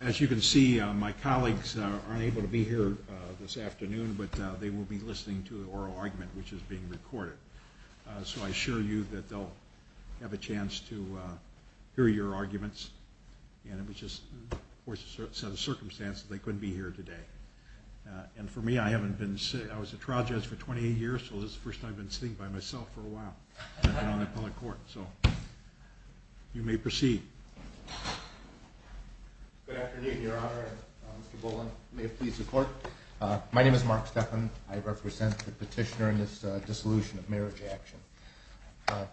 As you can see, my colleagues aren't able to be here this afternoon, but they will be listening to an oral argument, which is being recorded. So I assure you that they'll have a chance to hear your arguments, and it was just, of course, a set of circumstances they couldn't be here today. And for me, I haven't been sitting, I was a trial judge for 28 years, so this is the first time I've been sitting by myself for a while on a public court. So, you may proceed. Good afternoon, your honor. Mr. Boland, may it please the court. My name is Mark Stephan. I represent the petitioner in this dissolution of marriage action.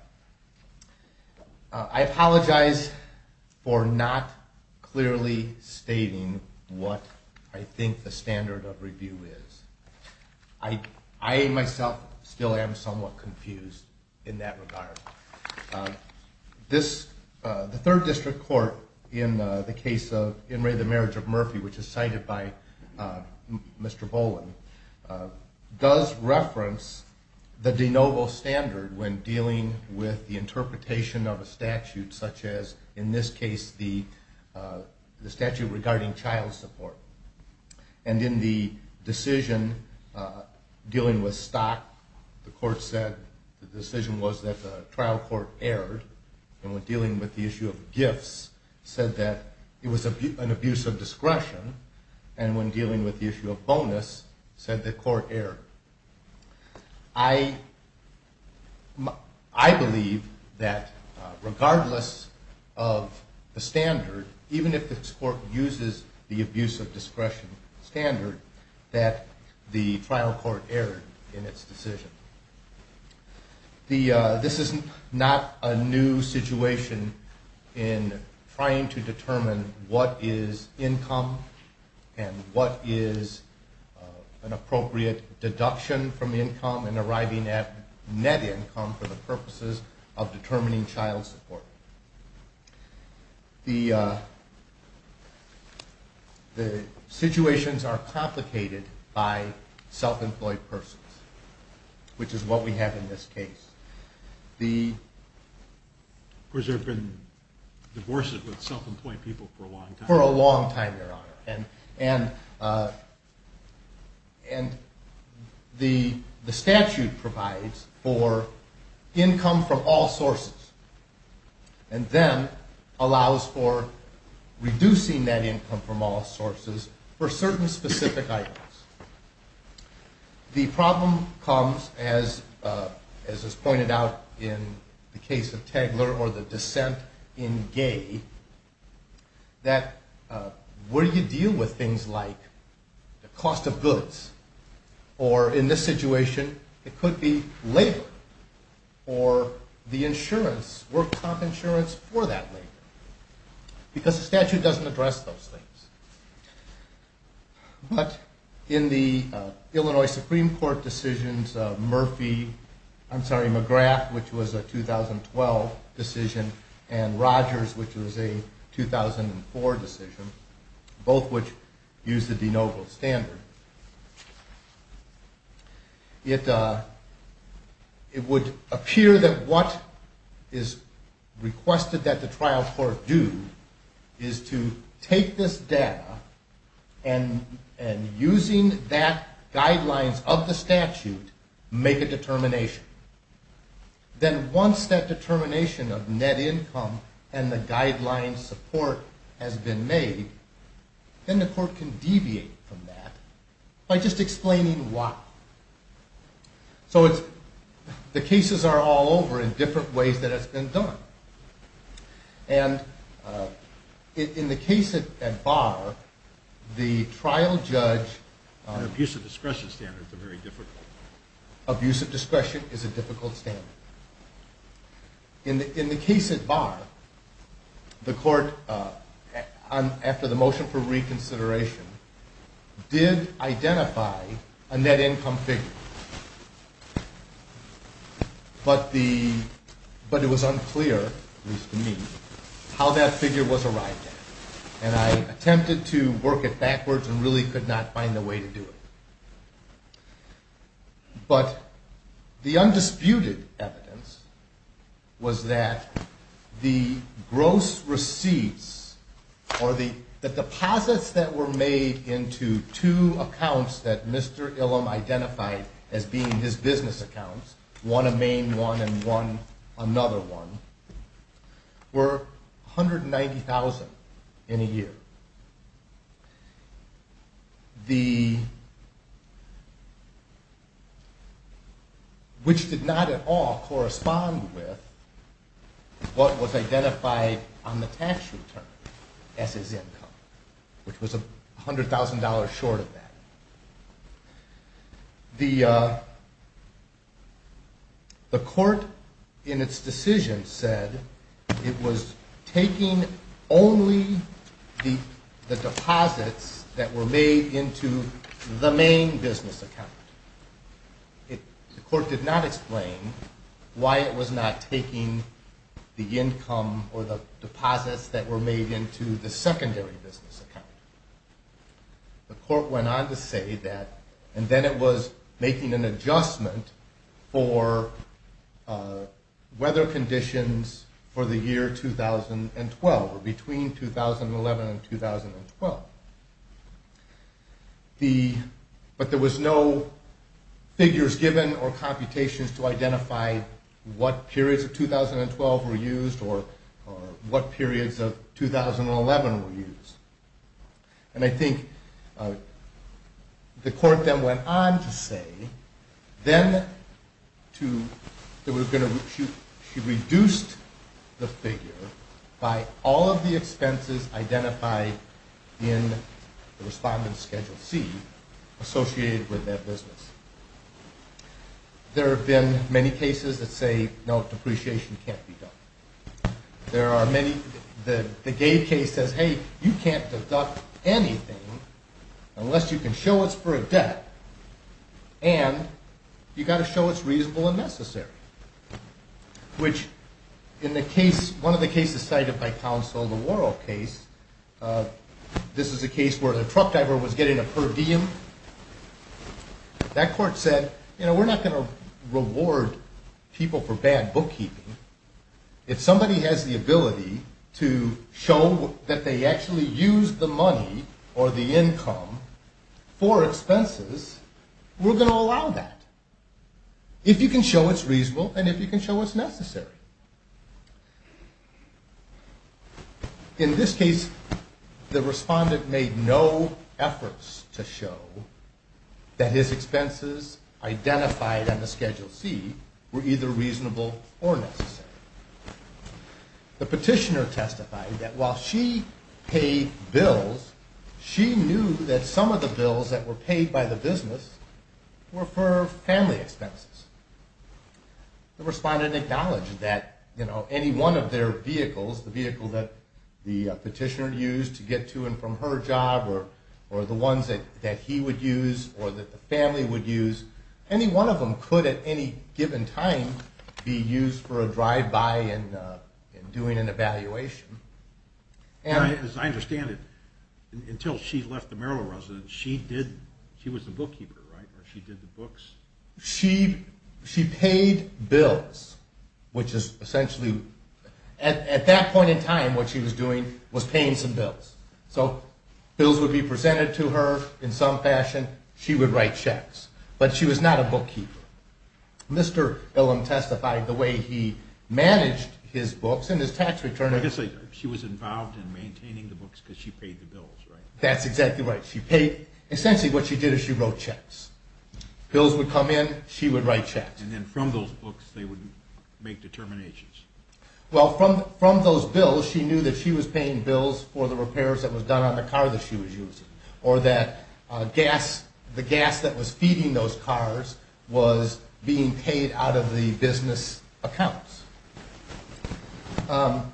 I apologize for not clearly stating what I think the standard of review is. I, myself, still am somewhat confused in that regard. The third district court, in the case of In Re. The Marriage of Murphy, which is cited by Mr. Boland, does reference the de novo standard when dealing with the interpretation of a statute such as, in this case, the statute regarding child support. And in the decision dealing with stock, the court said the decision was that the trial court erred, and when dealing with the issue of gifts, said that it was an abuse of discretion, and when dealing with the issue of bonus, said the court erred. I believe that regardless of the standard, even if the court uses the abuse of discretion standard, that the trial court erred in its decision. This is not a new situation in trying to determine what is income and what is an appropriate deduction from income and arriving at net income for the purposes of determining child support. The situations are complicated by self-employed persons, which is what we have in this case. Of course, they've been divorced with self-employed people for a long time. For a long time, Your Honor. And the statute provides for income from all sources, and then allows for reducing that income from all sources for certain specific items. The problem comes, as is pointed out in the case of Tagler or the dissent in Gay, that when you deal with things like the cost of goods, or in this situation, it could be labor, or the insurance, work-stop insurance for that labor, because the statute doesn't address those things. But in the Illinois Supreme Court decisions, Murphy, I'm sorry, McGrath, which was a 2012 decision, and Rogers, which was a 2004 decision, both which used the de novo standard, it would appear that what is requested that the trial court do is to take this data and, using that guidelines of the statute, make a determination. Then once that determination of net income and the guideline support has been made, then the court can deviate from that by just explaining why. So the cases are all over in different ways that it's been done. And in the case at Barr, the trial judge… Abuse of discretion standards are very difficult. Abuse of discretion is a difficult standard. In the case at Barr, the court, after the motion for reconsideration, did identify a net income figure, but it was unclear, at least to me, how that figure was arrived at. And I attempted to work it backwards and really could not find a way to do it. But the undisputed evidence was that the gross receipts, or the deposits that were made into two accounts that Mr. Illum identified as being his business accounts, one a main one and one another one, were $190,000 in a year. Which did not at all correspond with what was identified on the tax return as his income, which was $100,000 short of that. The court, in its decision, said it was taking only the deposits that were made into the main business account. The court did not explain why it was not taking the income or the deposits that were made into the secondary business account. The court went on to say that, and then it was making an adjustment for weather conditions for the year 2012, or between 2011 and 2012. But there was no figures given or computations to identify what periods of 2012 were used or what periods of 2011 were used. And I think the court then went on to say that she reduced the figure by all of the expenses identified in the respondent's Schedule C associated with that business. There have been many cases that say, no, depreciation can't be done. There are many, the Gay case says, hey, you can't deduct anything unless you can show it's for a debt, and you've got to show it's reasonable and necessary. Which in the case, one of the cases cited by counsel, the Worrell case, this is a case where the truck driver was getting a per diem. That court said, you know, we're not going to reward people for bad bookkeeping. If somebody has the ability to show that they actually used the money or the income for expenses, we're going to allow that. If you can show it's reasonable and if you can show it's necessary. In this case, the respondent made no efforts to show that his expenses identified on the Schedule C were either reasonable or necessary. The petitioner testified that while she paid bills, she knew that some of the bills that were paid by the business were for family expenses. The respondent acknowledged that, you know, any one of their vehicles, the vehicle that the petitioner used to get to and from her job or the ones that he would use or that the family would use, any one of them could at any given time be used for a drive-by and doing an evaluation. As I understand it, until she left the Maryland residence, she did, she was the bookkeeper, right, or she did the books? She paid bills, which is essentially, at that point in time, what she was doing was paying some bills. So bills would be presented to her in some fashion. She would write checks, but she was not a bookkeeper. Mr. Billum testified the way he managed his books and his tax return. Like I say, she was involved in maintaining the books because she paid the bills, right? That's exactly right. She paid, essentially what she did is she wrote checks. Bills would come in, she would write checks. And then from those books, they would make determinations. Well, from those bills, she knew that she was paying bills for the repairs that was done on the car that she was using or that gas, the gas that was feeding those cars was being paid out of the business accounts. And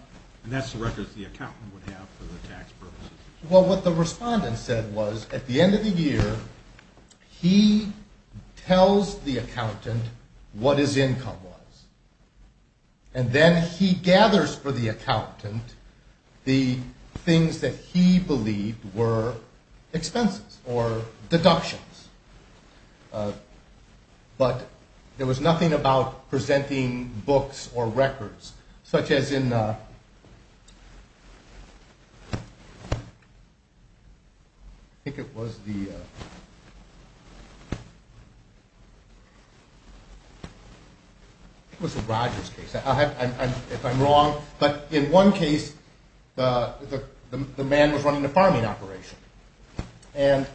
that's the records the accountant would have for the tax purposes. Well, what the respondent said was, at the end of the year, he tells the accountant what his income was. And then he gathers for the accountant the things that he believed were expenses or deductions. But there was nothing about presenting books or records, such as in – I think it was the – I think it was the Rogers case, if I'm wrong. But in one case, the man was running a farming operation. And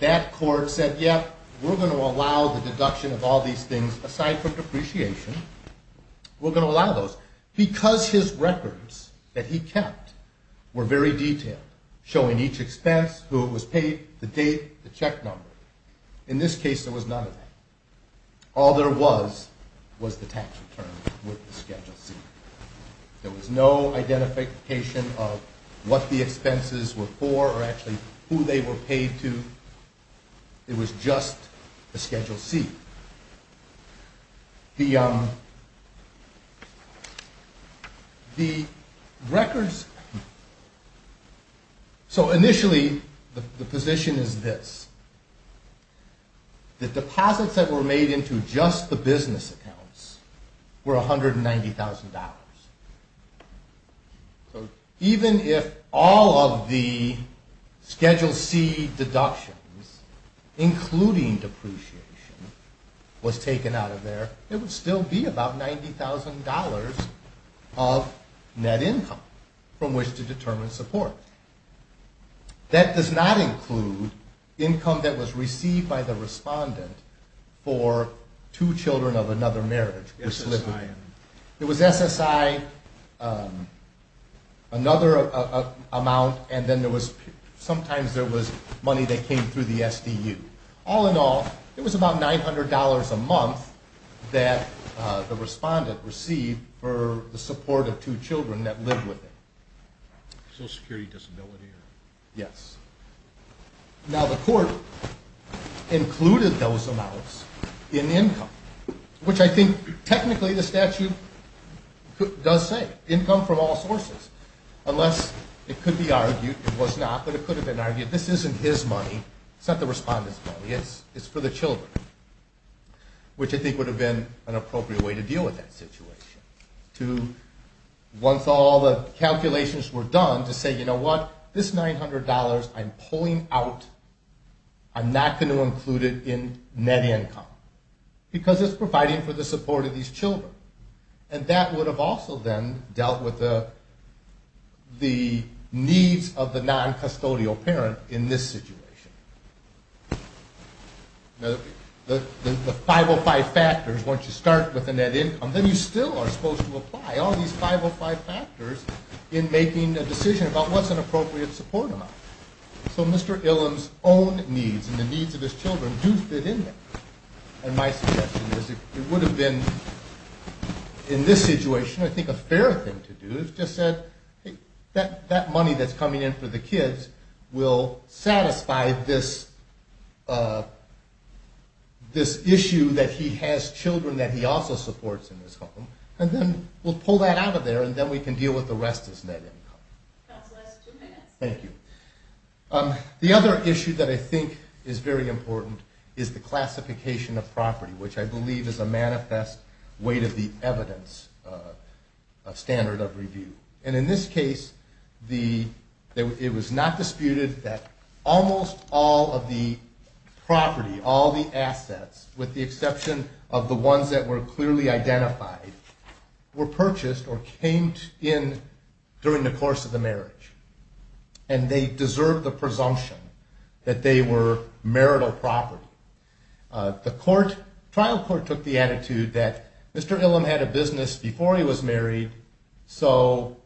that court said, yeah, we're going to allow the deduction of all these things aside from depreciation. We're going to allow those because his records that he kept were very detailed, showing each expense, who it was paid, the date, the check number. In this case, there was none of that. All there was was the tax return with the Schedule C. There was no identification of what the expenses were for or actually who they were paid to. It was just the Schedule C. The records – so initially, the position is this. The deposits that were made into just the business accounts were $190,000. So even if all of the Schedule C deductions, including depreciation, was taken out of there, it would still be about $90,000 of net income from which to determine support. That does not include income that was received by the respondent for two children of another marriage. It was SSI, another amount, and then there was – sometimes there was money that came through the SDU. All in all, it was about $900 a month that the respondent received for the support of two children that lived with him. Social Security disability? Yes. Now, the court included those amounts in income, which I think technically the statute does say, income from all sources. Unless it could be argued – it was not, but it could have been argued – this isn't his money. It's not the respondent's money. It's for the children, which I think would have been an appropriate way to deal with that situation. Once all the calculations were done, to say, you know what, this $900, I'm pulling out. I'm not going to include it in net income because it's providing for the support of these children. And that would have also then dealt with the needs of the noncustodial parent in this situation. Now, the 505 factors, once you start with the net income, then you still are supposed to apply all these 505 factors in making a decision about what's an appropriate support amount. So Mr. Illum's own needs and the needs of his children do fit in there. And my suggestion is it would have been, in this situation, I think a fairer thing to do is just said, hey, that money that's coming in for the kids will satisfy this issue that he has children that he also supports in his home. And then we'll pull that out of there and then we can deal with the rest as net income. That's the last two minutes. Thank you. The other issue that I think is very important is the classification of property, which I believe is a manifest way to the evidence standard of review. In this case, it was not disputed that almost all of the property, all the assets, with the exception of the ones that were clearly identified, were purchased or came in during the course of the marriage. And they deserve the presumption that they were marital property. The trial court took the attitude that Mr. Illum had a business before he was married, so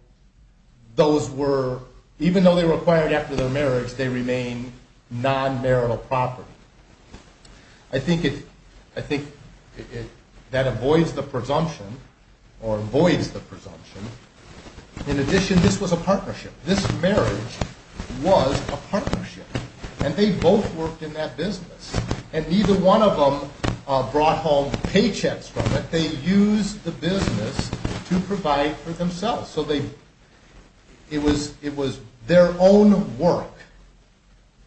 those were, even though they were acquired after their marriage, they remain non-marital property. I think that avoids the presumption, or avoids the presumption. In addition, this was a partnership. This marriage was a partnership. And they both worked in that business. And neither one of them brought home paychecks from it. But they used the business to provide for themselves. So they, it was their own work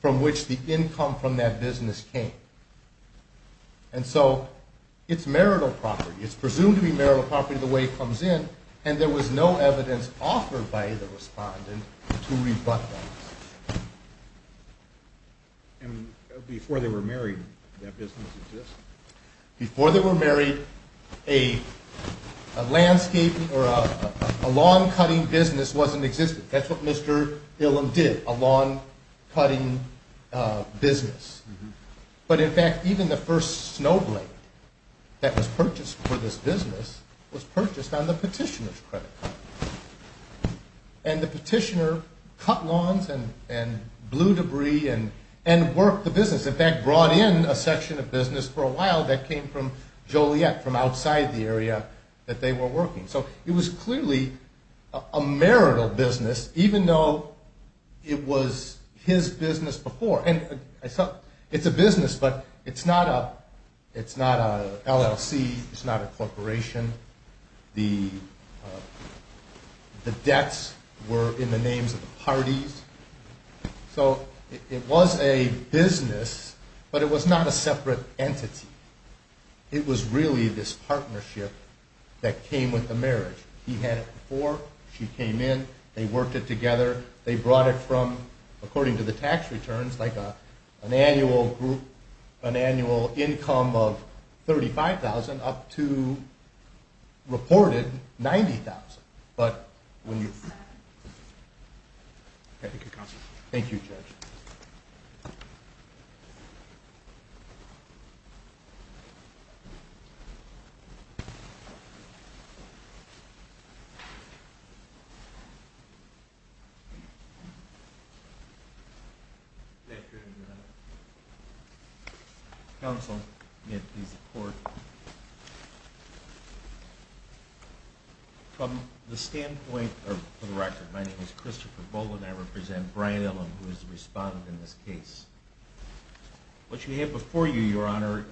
from which the income from that business came. And so, it's marital property. It's presumed to be marital property the way it comes in. And there was no evidence offered by the respondent to rebut that. And before they were married, that business existed? Before they were married, a landscape or a lawn-cutting business wasn't existing. That's what Mr. Illum did, a lawn-cutting business. But in fact, even the first snow blade that was purchased for this business was purchased on the petitioner's credit card. And the petitioner cut lawns and blew debris and worked the business. In fact, brought in a section of business for a while that came from Joliet, from outside the area that they were working. So it was clearly a marital business, even though it was his business before. And it's a business, but it's not a LLC. It's not a corporation. The debts were in the names of the parties. So it was a business, but it was not a separate entity. It was really this partnership that came with the marriage. He had it before, she came in, they worked it together. They brought it from, according to the tax returns, like an annual income of $35,000 up to reported $90,000. But when you… Thank you, Counsel. Thank you, Judge. Counsel, may I please have a report? From the standpoint of the record, my name is Christopher Bolden. I represent Brian Ellum, who is the respondent in this case. What you have before you, Your Honor,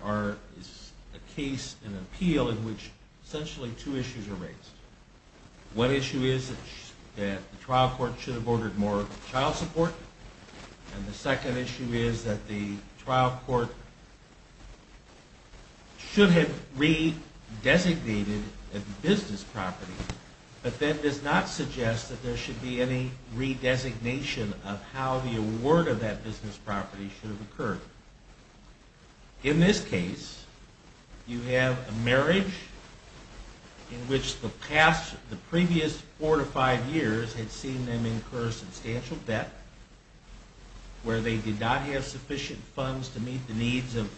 is a case, an appeal, in which essentially two issues are raised. One issue is that the trial court should have ordered more child support. And the second issue is that the trial court should have re-designated a business property. But that does not suggest that there should be any re-designation of how the award of that business property should have occurred. In this case, you have a marriage in which the past, the previous four to five years had seen them incur substantial debt, where they did not have sufficient funds to meet the needs of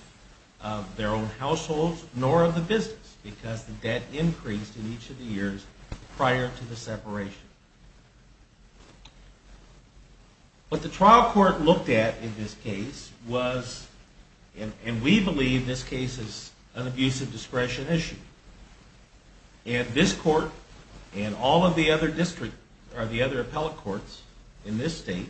their own households, nor of the business, because the debt increased in each of the years prior to the separation. What the trial court looked at in this case was, and we believe this case is an abuse of discretion issue. And this court and all of the other district, or the other appellate courts in this state,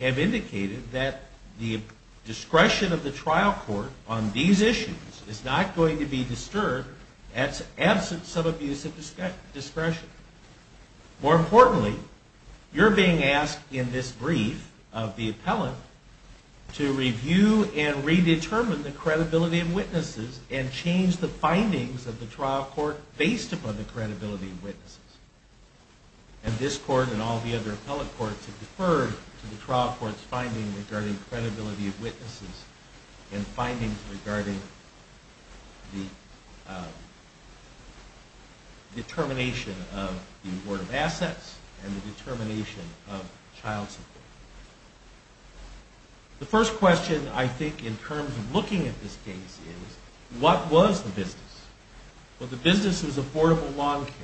have indicated that the discretion of the trial court on these issues is not going to be disturbed absent some abuse of discretion. More importantly, you're being asked in this brief of the appellant to review and re-determine the credibility of witnesses and change the findings of the trial court based upon the credibility of witnesses. And this court and all of the other appellate courts have deferred to the trial court's finding regarding credibility of witnesses and findings regarding the determination of the award of assets and the determination of child support. The first question, I think, in terms of looking at this case is, what was the business? Well, the business was affordable lawn care.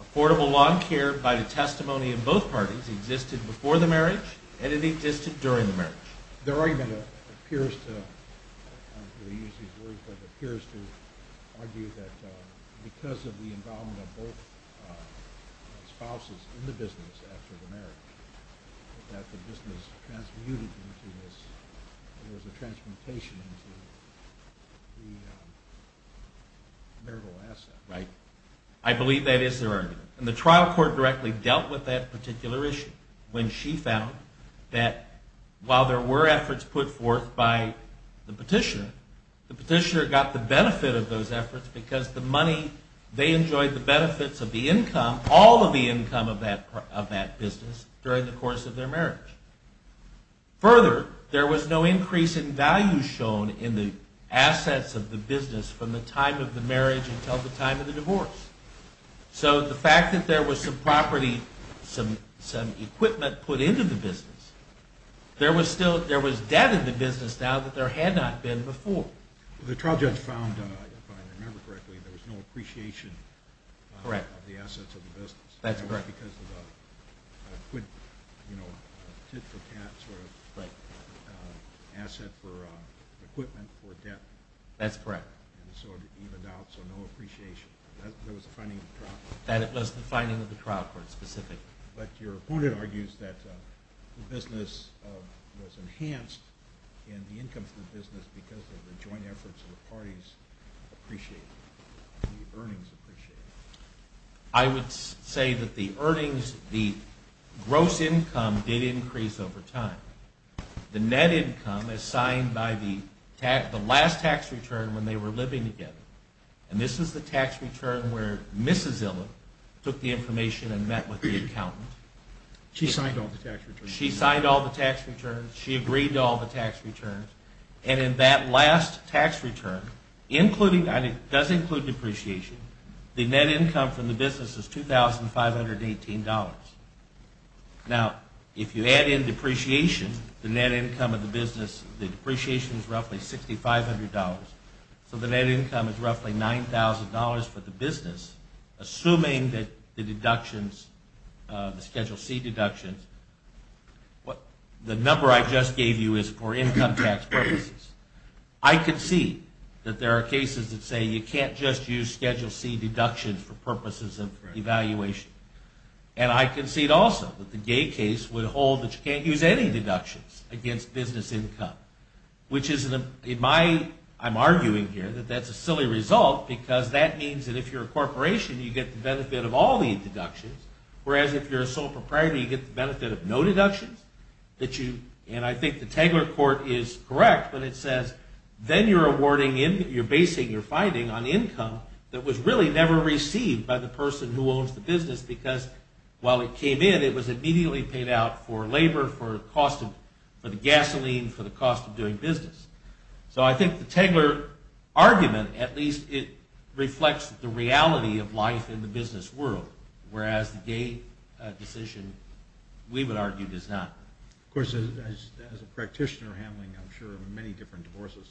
Affordable lawn care, by the testimony of both parties, existed before the marriage and it existed during the marriage. It appears to argue that because of the involvement of both spouses in the business after the marriage, that the business transmuted into this, there was a transmutation into the marital asset. I believe that is their argument. And the trial court directly dealt with that particular issue when she found that while there were efforts put forth by the petitioner, the petitioner got the benefit of those efforts because they enjoyed the benefits of the income, all of the income of that business during the course of their marriage. Further, there was no increase in value shown in the assets of the business from the time of the marriage until the time of the divorce. So the fact that there was some property, some equipment put into the business, there was still, there was debt in the business now that there had not been before. The trial judge found, if I remember correctly, there was no appreciation of the assets of the business. That's correct. Because of the, you know, tit for tat sort of asset for equipment for debt. That's correct. And so it evened out, so no appreciation. That was the finding of the trial court. That was the finding of the trial court, specifically. But your opponent argues that the business was enhanced in the income of the business because of the joint efforts of the parties appreciating, the earnings appreciated. I would say that the earnings, the gross income did increase over time. The net income is signed by the last tax return when they were living together. And this is the tax return where Mrs. Zillow took the information and met with the accountant. She signed all the tax returns. She signed all the tax returns. She agreed to all the tax returns. And in that last tax return, including, and it does include depreciation, the net income from the business is $2,518. Now, if you add in depreciation, the net income of the business, the depreciation is roughly $6,500. So the net income is roughly $9,000 for the business, assuming that the deductions, the Schedule C deductions, the number I just gave you is for income tax purposes. I concede that there are cases that say you can't just use Schedule C deductions for purposes of evaluation. And I concede also that the Gay case would hold that you can't use any deductions against business income, which is in my, I'm arguing here that that's a silly result, because that means that if you're a corporation, you get the benefit of all the deductions. Whereas if you're a sole proprietor, you get the benefit of no deductions. And I think the Tagler court is correct when it says then you're basing your finding on income that was really never received by the person who owns the business, because while it came in, it was immediately paid out for labor, for the cost of gasoline, for the cost of doing business. So I think the Tagler argument, at least, it reflects the reality of life in the business world, whereas the Gay decision, we would argue, does not. Of course, as a practitioner handling, I'm sure, many different divorces,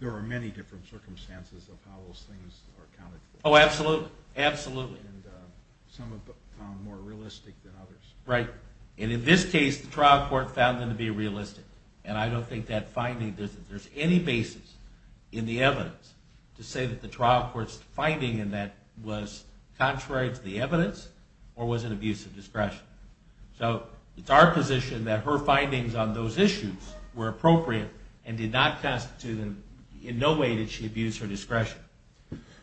there are many different circumstances of how those things are accounted for. Oh, absolutely. Absolutely. And some are found more realistic than others. Right. And in this case, the trial court found them to be realistic. And I don't think that finding, there's any basis in the evidence to say that the trial court's finding in that was contrary to the evidence or was an abuse of discretion. So it's our position that her findings on those issues were appropriate and did not constitute, in no way did she abuse her discretion.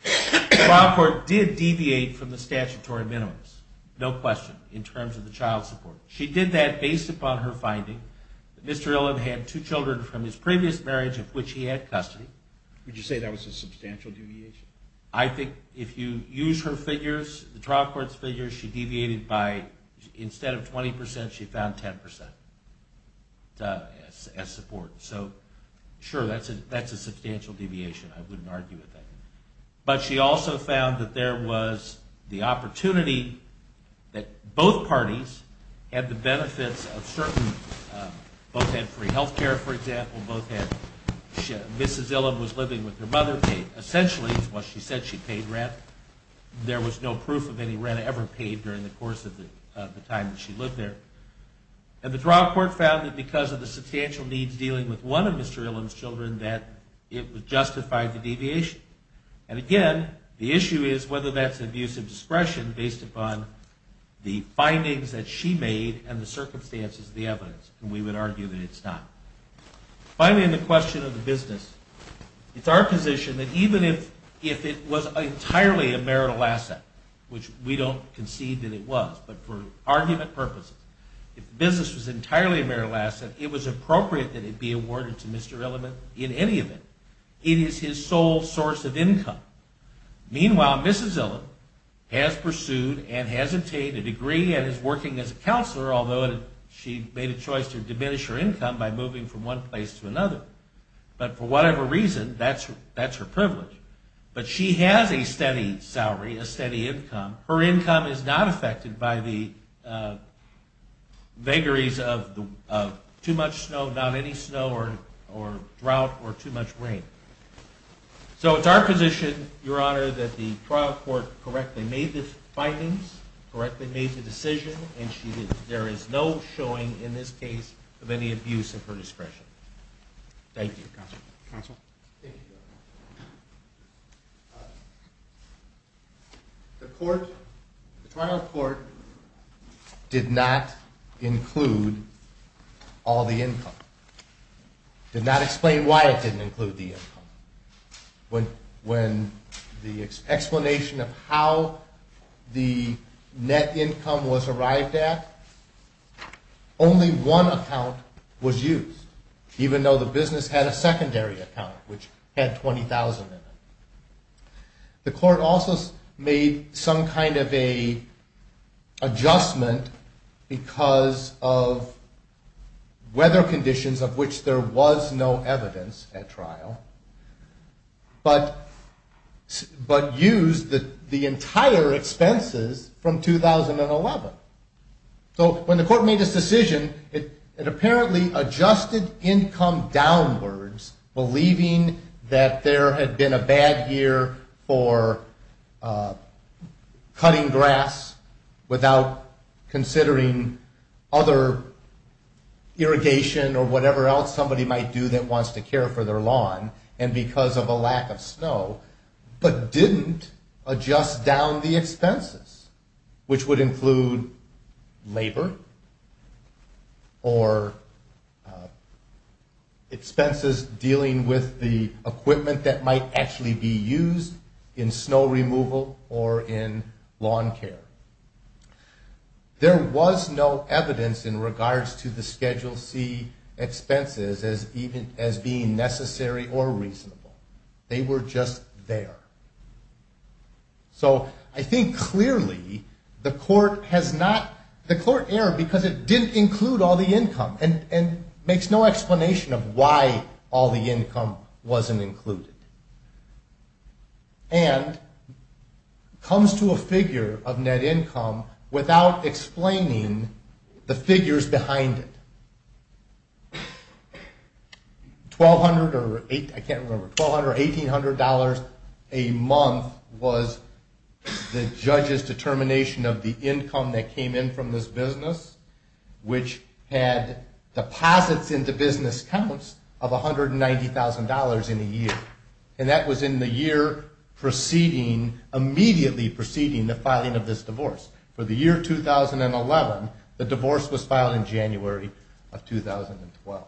The trial court did deviate from the statutory minimums, no question, in terms of the child support. She did that based upon her finding that Mr. Ilham had two children from his previous marriage of which he had custody. Would you say that was a substantial deviation? I think if you use her figures, the trial court's figures, she deviated by, instead of 20%, she found 10% as support. So, sure, that's a substantial deviation. I wouldn't argue with that. But she also found that there was the opportunity that both parties had the benefits of certain, both had free health care, for example, both had, Mrs. Ilham was living with her mother, essentially it's what she said she paid rent. There was no proof of any rent ever paid during the course of the time that she lived there. And the trial court found that because of the substantial needs dealing with one of Mr. Ilham's children, that it justified the deviation. And again, the issue is whether that's an abuse of discretion based upon the findings that she made and the circumstances of the evidence. And we would argue that it's not. Finally, in the question of the business, it's our position that even if it was entirely a marital asset, which we don't concede that it was, but for argument purposes, if the business was entirely a marital asset, it was appropriate that it be awarded to Mr. Ilham in any event. It is his sole source of income. Meanwhile, Mrs. Ilham has pursued and has obtained a degree and is working as a counselor, although she made a choice to diminish her income by moving from one place to another. But for whatever reason, that's her privilege. But she has a steady salary, a steady income. Her income is not affected by the vagaries of too much snow, not any snow or drought or too much rain. So it's our position, Your Honor, that the trial court correctly made the findings, correctly made the decision, and there is no showing in this case of any abuse of her discretion. Thank you. Counsel? Thank you, Your Honor. The trial court did not include all the income, did not explain why it didn't include the income. When the explanation of how the net income was arrived at, only one account was used, even though the business had a secondary account, which had $20,000 in it. The court also made some kind of an adjustment because of weather conditions of which there was no evidence at trial, but used the entire expenses from 2011. So when the court made this decision, it apparently adjusted income downwards, believing that there had been a bad year for cutting grass without considering other irrigation or whatever else somebody might do that wants to care for their lawn and because of a lack of snow, but didn't adjust down the expenses, which would include labor or expenses dealing with the equipment that might actually be used in snow removal or in lawn care. There was no evidence in regards to the Schedule C expenses as being necessary or reasonable. They were just there. So I think clearly the court erred because it didn't include all the income and makes no explanation of why all the income wasn't included. And comes to a figure of net income without explaining the figures behind it. $1,200 or $1,800 a month was the judge's determination of the income that came in from this business, which had deposits into business accounts of $190,000 in a year. And that was in the year immediately preceding the filing of this divorce. For the year 2011, the divorce was filed in January 2012.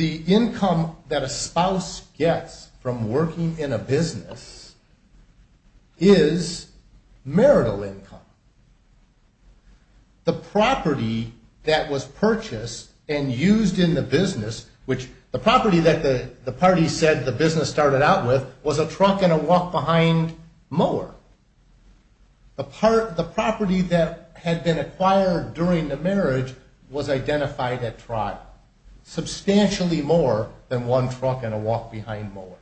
The income that a spouse gets from working in a business is marital income. The property that was purchased and used in the business, which the property that the party said the business started out with was a truck and a walk-behind mower. The property that had been acquired during the marriage was identified at trial substantially more than one truck and a walk-behind mower.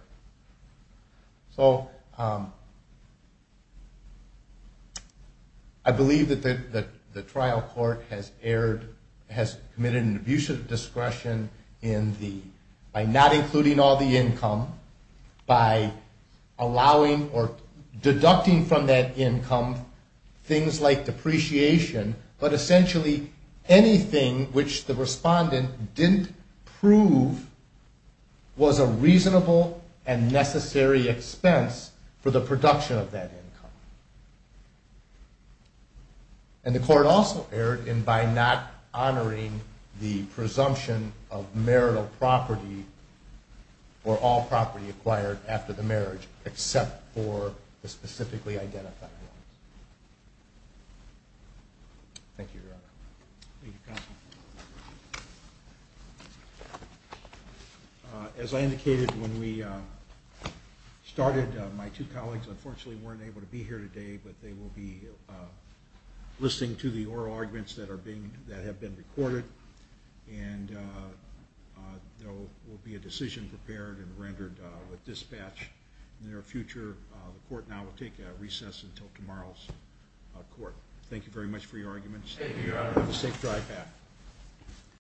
So I believe that the trial court has committed an abuse of discretion by not including all the income, by allowing or deducting from that income things like depreciation, but essentially anything which the respondent didn't prove was a reasonable and necessary expense for the production of that income. And the court also erred in by not honoring the presumption of marital property or all property acquired after the marriage except for the specifically identified ones. Thank you, Your Honor. Thank you, Counsel. As I indicated when we started, my two colleagues unfortunately weren't able to be here today. But they will be listening to the oral arguments that have been recorded. And there will be a decision prepared and rendered with dispatch in the near future. The court now will take a recess until tomorrow's court. Thank you very much for your arguments. Have a safe drive back.